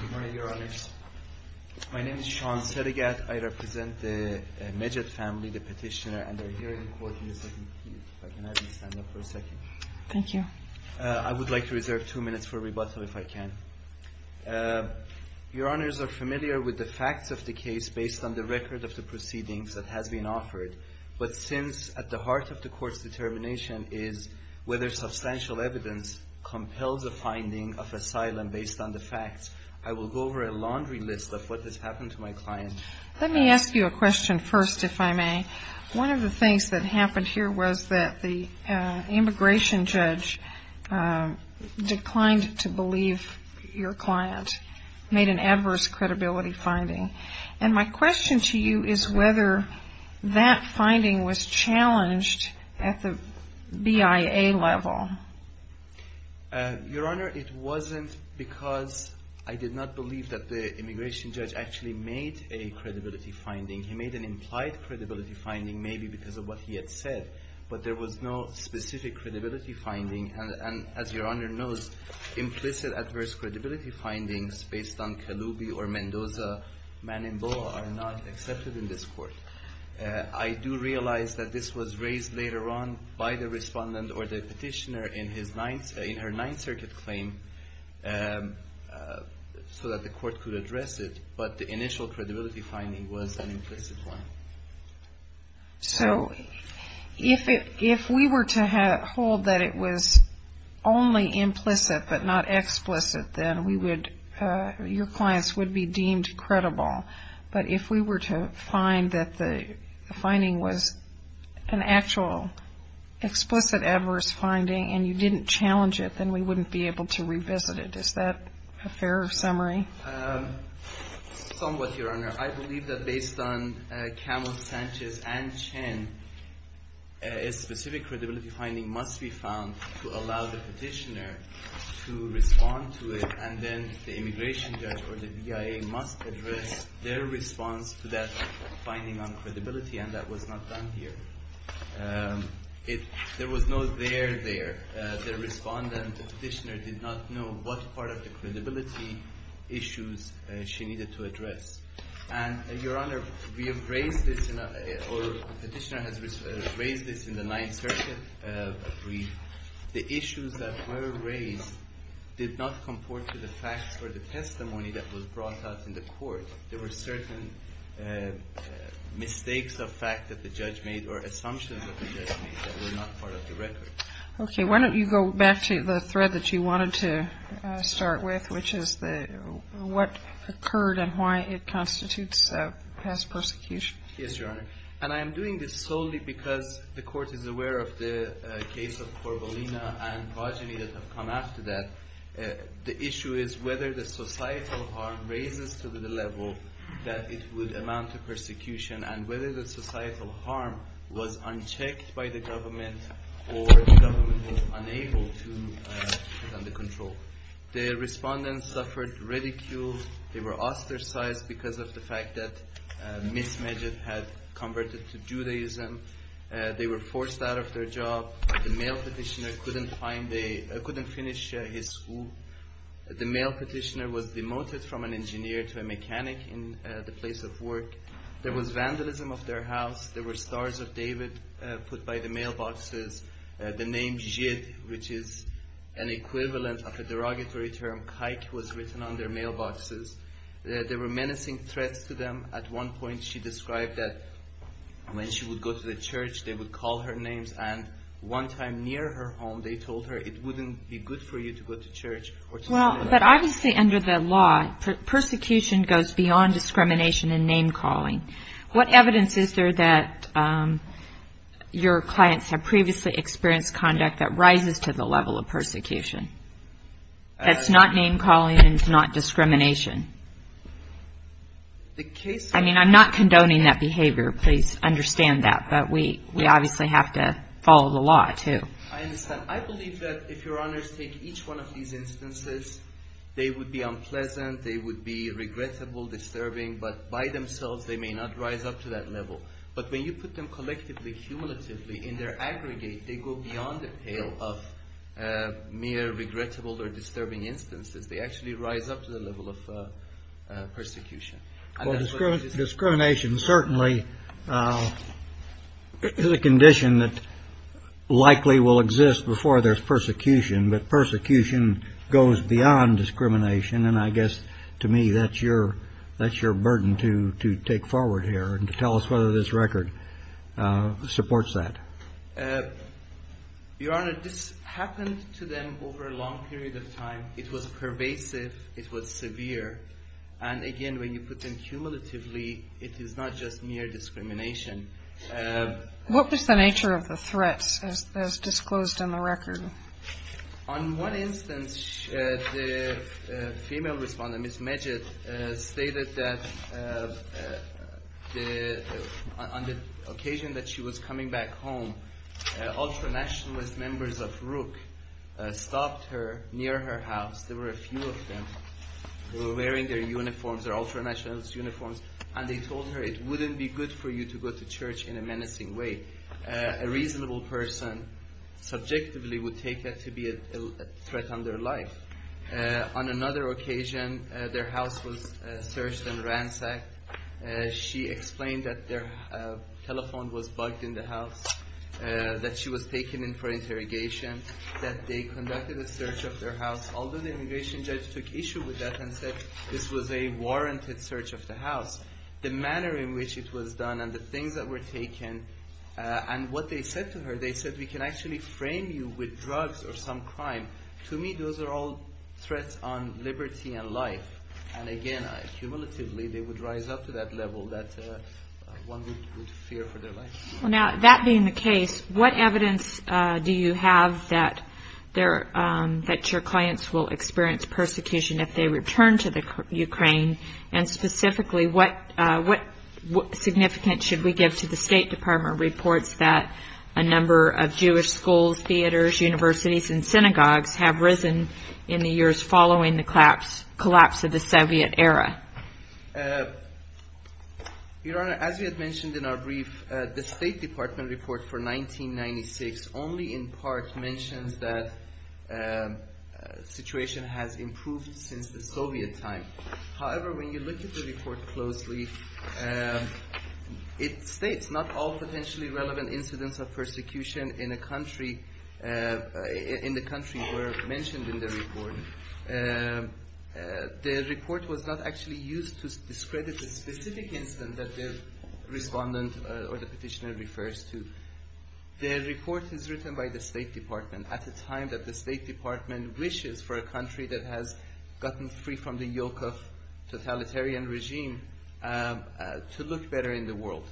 Good morning, Your Honors. My name is Sean Serigat. I represent the Meged family, the petitioner, and I'm here in court in the second period. If I can have you stand up for a second. Thank you. I would like to reserve two minutes for rebuttal, if I can. Your Honors are familiar with the facts of the case based on the record of the proceedings that has been offered, but since at the heart of the court's determination is whether substantial evidence compels a finding of asylum based on the facts, I will go over a laundry list of what has happened to my client. Let me ask you a question first, if I may. One of the things that happened here was that the immigration judge declined to believe your client made an adverse credibility finding. And my question to you is whether that finding was challenged at the BIA level. Your Honor, it wasn't because I did not believe that the immigration judge actually made a credibility finding. He made an implied credibility finding, maybe because of what he had said, but there was no specific credibility finding. And as your Honor knows, implicit adverse credibility findings based on Kaloubi or Mendoza Manimboa are not accepted in this court. I do realize that this was raised later on by the respondent or the petitioner in her Ninth Circuit claim so that the court could address it, but the initial credibility finding was an implicit one. So if we were to hold that it was only implicit but not explicit, then your clients would be deemed credible. But if we were to find that the finding was an actual explicit adverse finding and you didn't challenge it, then we wouldn't be able to revisit it. Is that a fair summary? Somewhat, your Honor. I believe that based on Camus, Sanchez, and Chen, a specific credibility finding must be found to allow the petitioner to respond to it, and then the immigration judge or the BIA must address their response to that finding on credibility, and that was not done here. There was no there there. The respondent, the petitioner, did not know what part of the credibility issues she needed to address. And your Honor, we have raised this, or the petitioner has raised this in the Ninth Circuit brief. The issues that were raised did not comport to the facts or the testimony that was brought out in the court. There were certain mistakes of fact that the judge made or assumptions that the judge made that were not part of the record. Okay. Why don't you go back to the thread that you wanted to start with, which is what occurred and why it constitutes past persecution? Yes, your Honor. And I am doing this solely because the court is aware of the case of Korbalina and Vajini that have come after that. The issue is whether the societal harm raises to the level that it would amount to persecution and whether the societal harm was unchecked by the government or the government was unable to get under control. The respondents suffered ridicule. They were ostracized because of the fact that Ms. Majid had converted to Judaism. They were forced out of their job. The male petitioner couldn't finish his school. The male petitioner was demoted from an engineer to a mechanic in the place of work. There was vandalism of their house. There were stars of David put by the mailboxes. The name Jid, which is an equivalent of a derogatory term, Kaik, was written on their mailboxes. There were menacing threats to them. At one point, she described that when she would go to the church, they would call her names. And one time near her home, they told her it wouldn't be good for you to go to church. Well, but obviously under the law, persecution goes beyond discrimination and name calling. What evidence is there that your clients have previously experienced conduct that rises to the level of persecution? That's not name calling and it's not discrimination? I mean, I'm not condoning that behavior. Please understand that. But we obviously have to follow the law, too. I understand. I believe that if your honors take each one of these instances, they would be unpleasant. They would be regrettable, disturbing. But by themselves, they may not rise up to that level. But when you put them collectively, cumulatively in their aggregate, they go beyond the pale of mere regrettable or disturbing instances. They actually rise up to the level of persecution. Discrimination certainly is a condition that likely will exist before there's persecution. But persecution goes beyond discrimination. And I guess to me, that's your that's your burden to to take forward here and to tell us whether this record supports that. Your Honor, this happened to them over a long period of time. It was pervasive. It was severe. And again, when you put them cumulatively, it is not just mere discrimination. What was the nature of the threats as disclosed in the record? On one instance, the female respondent, Ms. Majid, stated that on the occasion that she was coming back home, ultra-nationalist members of RUK stopped her near her house. There were a few of them who were wearing their uniforms, their ultra-nationalist uniforms, and they told her it wouldn't be good for you to go to church in a menacing way. A reasonable person subjectively would take that to be a threat on their life. On another occasion, their house was searched and ransacked. She explained that their telephone was bugged in the house, that she was taken in for interrogation, that they conducted a search of their house, although the immigration judge took issue with that and said this was a warranted search of the house. The manner in which it was done and the things that were taken and what they said to her, they said, we can actually frame you with drugs or some crime. To me, those are all threats on liberty and life. And again, cumulatively, they would rise up to that level that one would fear for their life. That being the case, what evidence do you have that your clients will experience persecution if they return to Ukraine? And specifically, what significance should we give to the State Department reports that a number of Jewish schools, theaters, universities, and synagogues have risen in the years following the collapse of the Soviet era? Your Honor, as we had mentioned in our brief, the State Department report for 1996 only in part mentions that the situation has improved since the Soviet time. However, when you look at the report closely, it states not all potentially relevant incidents of persecution in the country were mentioned in the report. The report was not actually used to discredit the specific incident that the respondent or the petitioner refers to. The report is written by the State Department at a time that the State Department wishes for a country that has gotten free from the yoke of totalitarian regime to look better in the world.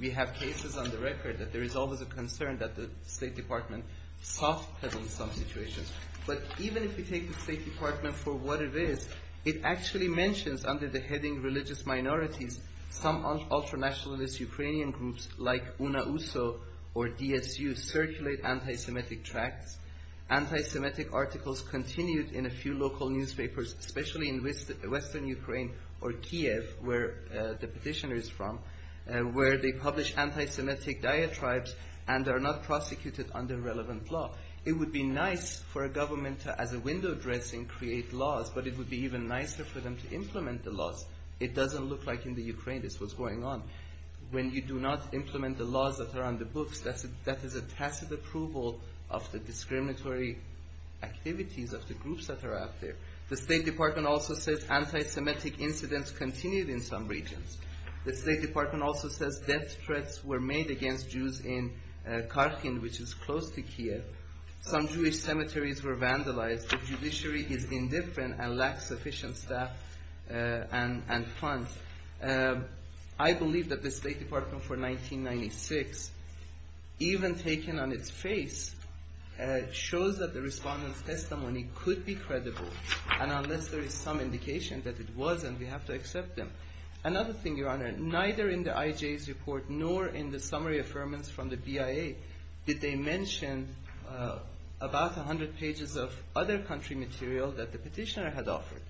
We have cases on the record that there is always a concern that the State Department soft-pedals some situations. But even if we take the State Department for what it is, it actually mentions under the heading religious minorities, some ultra-nationalist Ukrainian groups like UNAUSO or DSU circulate anti-Semitic tracts. Anti-Semitic articles continued in a few local newspapers, especially in Western Ukraine or Kiev, where the petitioner is from, where they publish anti-Semitic diatribes and are not prosecuted under relevant law. It would be nice for a government to, as a window dressing, create laws, but it would be even nicer for them to implement the laws. It doesn't look like in the Ukraine this was going on. When you do not implement the laws that are on the books, that is a tacit approval of the discriminatory activities of the groups that are out there. The State Department also says anti-Semitic incidents continued in some regions. The State Department also says death threats were made against Jews in Kharkin, which is close to Kiev. Some Jewish cemeteries were vandalized. The judiciary is indifferent and lacks sufficient staff and funds. I believe that the State Department for 1996, even taken on its face, shows that the respondents' testimony could be credible. And unless there is some indication that it wasn't, we have to accept them. Another thing, Your Honor, neither in the IJ's report nor in the summary affirmance from the BIA did they mention about 100 pages of other country material that the petitioner had offered.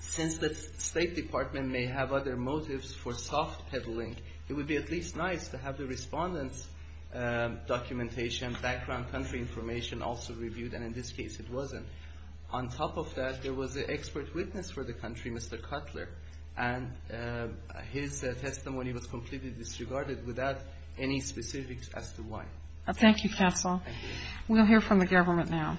Since the State Department may have other motives for soft peddling, it would be at least nice to have the respondents' documentation, background country information also reviewed, and in this case it wasn't. On top of that, there was an expert witness for the country, Mr. Cutler, and his testimony was completely disregarded without any specifics as to why. Thank you, Faisal. We'll hear from the government now.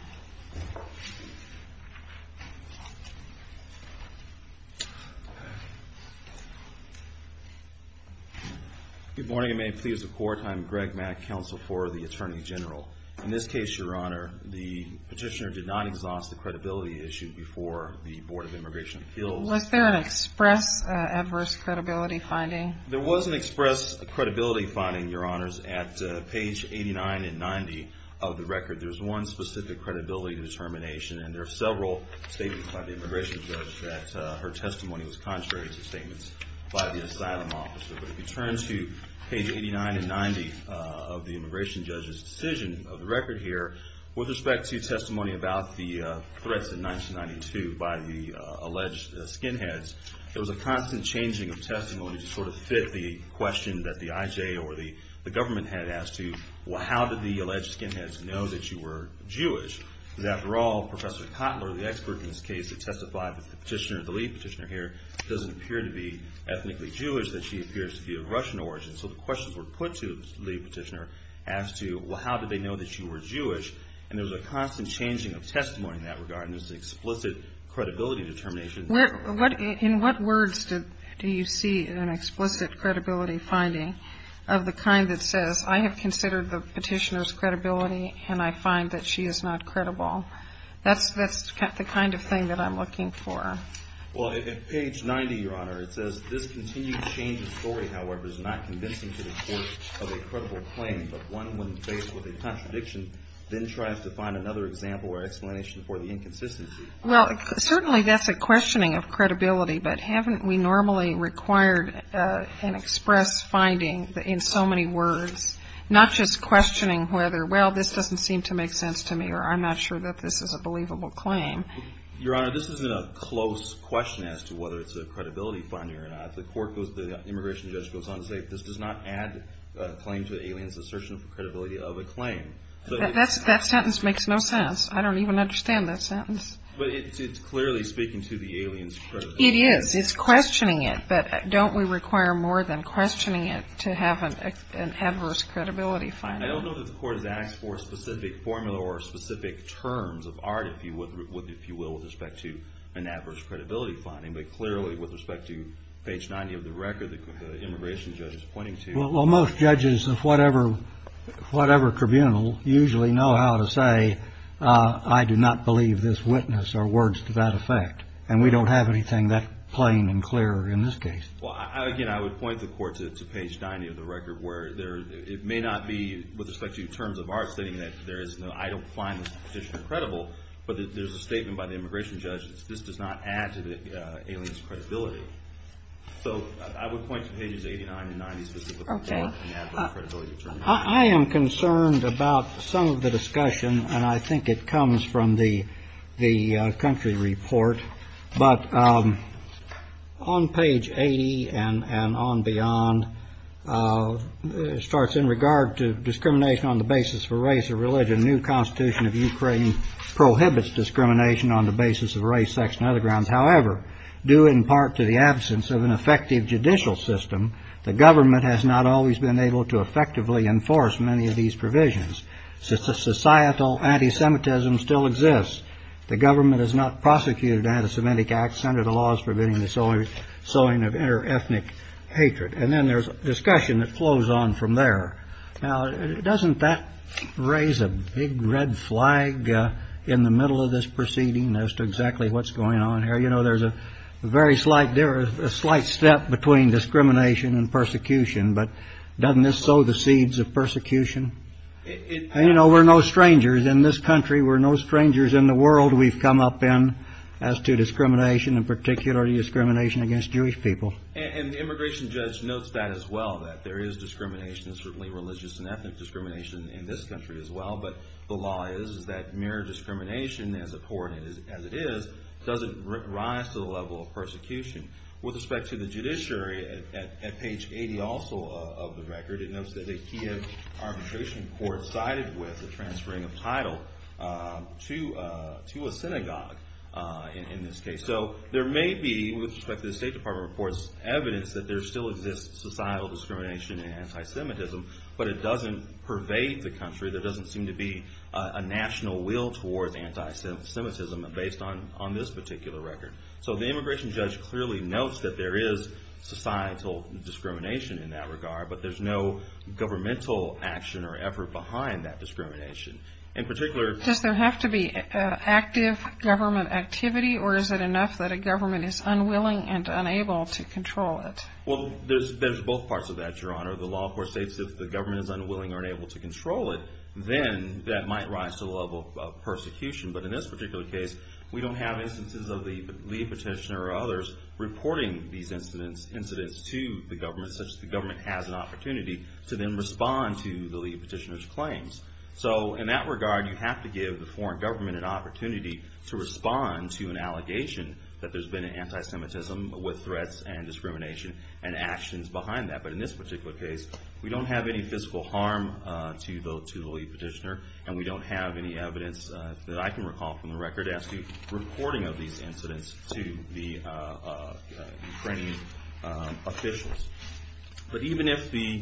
Good morning and may it please the Court. I'm Greg Mack, Counsel for the Attorney General. In this case, Your Honor, the petitioner did not exhaust the credibility issued before the Board of Immigration Appeals. Was there an express adverse credibility finding? There was an express credibility finding, Your Honors, at page 89 and 90 of the record. There's one specific credibility determination and there are several statements by the immigration judge that her testimony was contrary to statements by the asylum officer. But if you turn to page 89 and 90 of the immigration judge's decision of the record here, with respect to testimony about the threats in 1992 by the alleged skinheads, there was a constant changing of testimony to sort of fit the question that the IJ or the government had as to, well, how did the alleged skinheads know that you were Jewish? Because after all, Professor Cutler, the expert in this case that testified with the petitioner, the lead petitioner here, doesn't appear to be ethnically Jewish, that she appears to be of Russian origin. So the questions were put to the lead petitioner as to, well, how did they know that you were Jewish? And there was a constant changing of testimony in that regard, and there's an explicit credibility determination. In what words do you see an explicit credibility finding of the kind that says, I have considered the petitioner's credibility and I find that she is not credible? That's the kind of thing that I'm looking for. Well, at page 90, Your Honor, it says, this continued change of story, however, is not convincing to the court of a credible claim, but one when faced with a contradiction then tries to find another example or explanation for the inconsistency. Well, certainly that's a questioning of credibility, but haven't we normally required an express finding in so many words? Not just questioning whether, well, this doesn't seem to make sense to me, or I'm not sure that this is a believable claim. Your Honor, this isn't a close question as to whether it's a credibility finding or not. The immigration judge goes on to say this does not add a claim to an alien's assertion of credibility of a claim. That sentence makes no sense. I don't even understand that sentence. It's clearly speaking to the alien's credibility. It is. It's questioning it. But don't we require more than questioning it to have an adverse credibility finding? I don't know that the court has asked for a specific formula or specific terms of art, if you will, with respect to an adverse credibility finding. But clearly, with respect to page 90 of the record, the immigration judge is pointing to. Well, most judges of whatever tribunal usually know how to say, I do not believe this witness or words to that effect. And we don't have anything that plain and clear in this case. Well, again, I would point the court to page 90 of the record where it may not be with respect to terms of art stating that there is no, I don't find this position credible. But there's a statement by the immigration judge that this does not add to the alien's credibility. So I would point to pages 89 and 90. OK. I am concerned about some of the discussion, and I think it comes from the the country report. But on page 80 and on beyond starts in regard to discrimination on the basis for race or religion. A new constitution of Ukraine prohibits discrimination on the basis of race, sex and other grounds. However, due in part to the absence of an effective judicial system, the government has not always been able to effectively enforce many of these provisions. So it's a societal anti-Semitism still exists. The government has not prosecuted anti-Semitic acts under the laws forbidding the sowing of inter-ethnic hatred. And then there's a discussion that flows on from there. Now, doesn't that raise a big red flag in the middle of this proceeding as to exactly what's going on here? You know, there's a very slight there is a slight step between discrimination and persecution. But doesn't this sow the seeds of persecution? And, you know, we're no strangers in this country. We're no strangers in the world we've come up in as to discrimination and particularly discrimination against Jewish people. And the immigration judge notes that as well, that there is discrimination, certainly religious and ethnic discrimination in this country as well. But the law is that mere discrimination, as abhorrent as it is, doesn't rise to the level of persecution. With respect to the judiciary, at page 80 also of the record, it notes that a Kiev arbitration court sided with the transferring of title to a synagogue in this case. So there may be, with respect to the State Department reports, evidence that there still exists societal discrimination and anti-Semitism. But it doesn't pervade the country. There doesn't seem to be a national will towards anti-Semitism based on this particular record. So the immigration judge clearly notes that there is societal discrimination in that regard. But there's no governmental action or effort behind that discrimination. In particular... Does there have to be active government activity or is it enough that a government is unwilling and unable to control it? Well, there's both parts of that, Your Honor. The law, of course, states that if the government is unwilling or unable to control it, then that might rise to the level of persecution. But in this particular case, we don't have instances of the lead petitioner or others reporting these incidents to the government, such that the government has an opportunity to then respond to the lead petitioner's claims. So in that regard, you have to give the foreign government an opportunity to respond to an allegation that there's been an anti-Semitism with threats and discrimination and actions behind that. But in this particular case, we don't have any physical harm to the lead petitioner. And we don't have any evidence that I can recall from the record as to reporting of these incidents to the Ukrainian officials. But even if the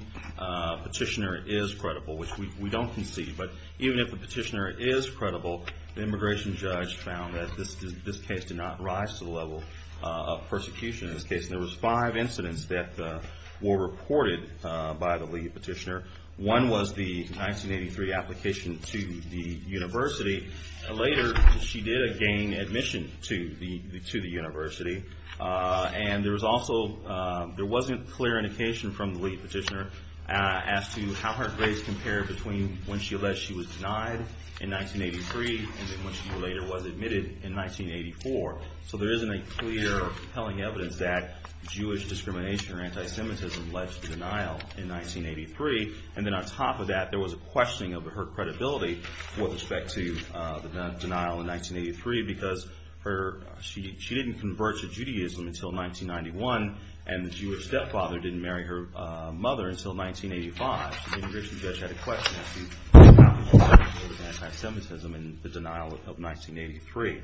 petitioner is credible, which we don't concede, but even if the petitioner is credible, the immigration judge found that this case did not rise to the level of persecution in this case. And there was five incidents that were reported by the lead petitioner. One was the 1983 application to the university. Later, she did again admission to the university. And there was also, there wasn't clear indication from the lead petitioner as to how her grades compared between when she alleged she was denied in 1983 and when she later was admitted in 1984. So there isn't a clear compelling evidence that Jewish discrimination or anti-Semitism led to denial in 1983. And then on top of that, there was a questioning of her credibility with respect to the denial in 1983, because she didn't convert to Judaism until 1991, and the Jewish stepfather didn't marry her mother until 1985. So the immigration judge had a question as to how she was able to deal with anti-Semitism in the denial of 1983.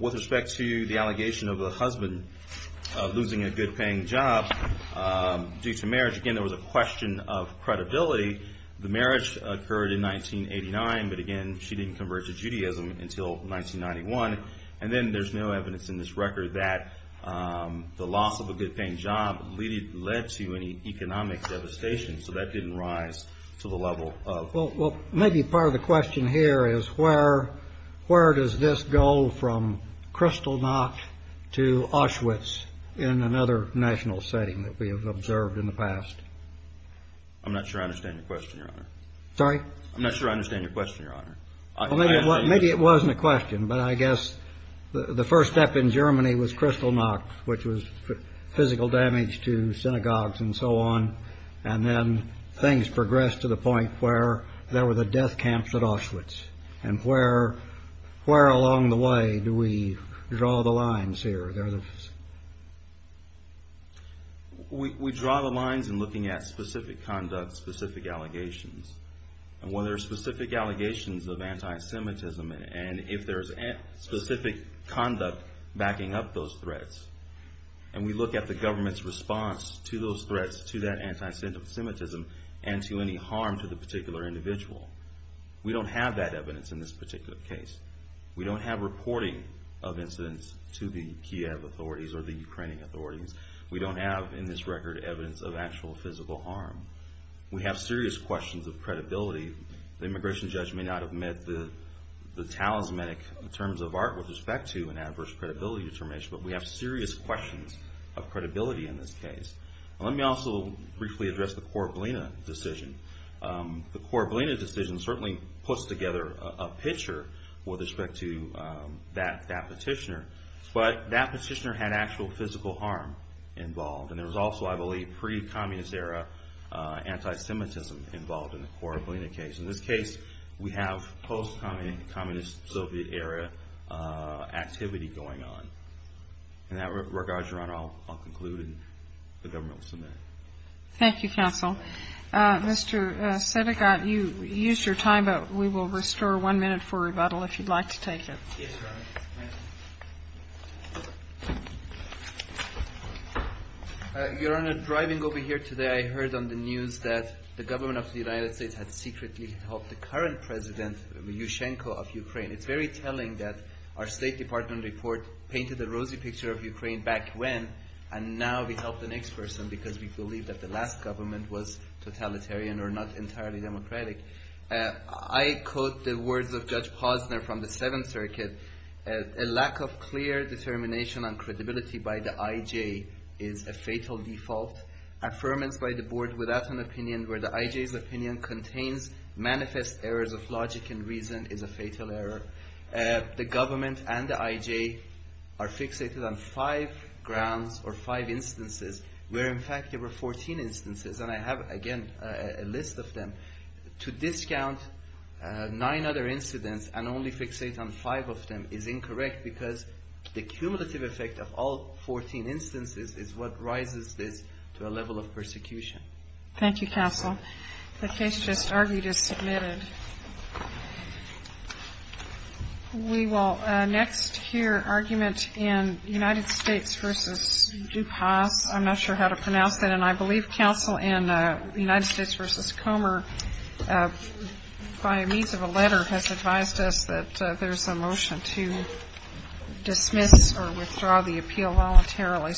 With respect to the allegation of the husband losing a good-paying job due to marriage, again, there was a question of credibility. The marriage occurred in 1989, but again, she didn't convert to Judaism until 1991. And then there's no evidence in this record that the loss of a good-paying job led to any economic devastation, so that didn't rise to the level of... Well, maybe part of the question here is where does this go from Kristallnacht to Auschwitz in another national setting that we have observed in the past? I'm not sure I understand your question, Your Honor. Maybe it wasn't a question, but I guess the first step in Germany was Kristallnacht, which was physical damage to synagogues and so on. And then things progressed to the point where there were the death camps at Auschwitz. And where along the way do we draw the lines here? We draw the lines in looking at specific conduct, specific allegations. And when there are specific allegations of anti-Semitism, and if there's specific conduct backing up those threats, and we look at the government's response to those threats, to that anti-Semitism, and to any harm to the particular individual, we don't have that evidence in this particular case. We don't have reporting of incidents to the Kiev authorities or the Ukrainian authorities. We don't have, in this record, evidence of actual physical harm. We have serious questions of credibility. The immigration judge may not have met the talismanic terms of art with respect to an adverse credibility determination, but we have serious questions of credibility in this case. Let me also briefly address the Korablina decision. The Korablina decision certainly puts together a picture with respect to that petitioner. But that petitioner had actual physical harm involved. And there was also, I believe, pre-communist era anti-Semitism involved in the Korablina case. In this case, we have post-communist Soviet era activity going on. In that regard, Your Honor, I'll conclude, and the government will submit. Thank you, counsel. Mr. Sedekat, you used your time, but we will restore one minute for rebuttal if you'd like to take it. Yes, Your Honor. Your Honor, driving over here today, I heard on the news that the government of the United States had secretly helped the current president, Yushchenko, of Ukraine. It's very telling that our State Department report painted a rosy picture of Ukraine back when, and now we helped the next person because we believe that the last government was totalitarian or not entirely democratic. I quote the words of Judge Posner from the Seventh Circuit. A lack of clear determination on credibility by the IJ is a fatal default. Affirmance by the board without an opinion where the IJ's opinion contains manifest errors of logic and reason is a fatal error. The government and the IJ are fixated on five grounds or five instances where, in fact, there were 14 instances. And I have, again, a list of them. To discount nine other incidents and only fixate on five of them is incorrect because the cumulative effect of all 14 instances is what rises this to a level of persecution. Thank you, counsel. The case just argued is submitted. We will next hear argument in United States v. DuPas. I'm not sure how to pronounce that. And I believe counsel in United States v. Comer, by means of a letter, has advised us that there's a motion to dismiss or withdraw the appeal voluntarily.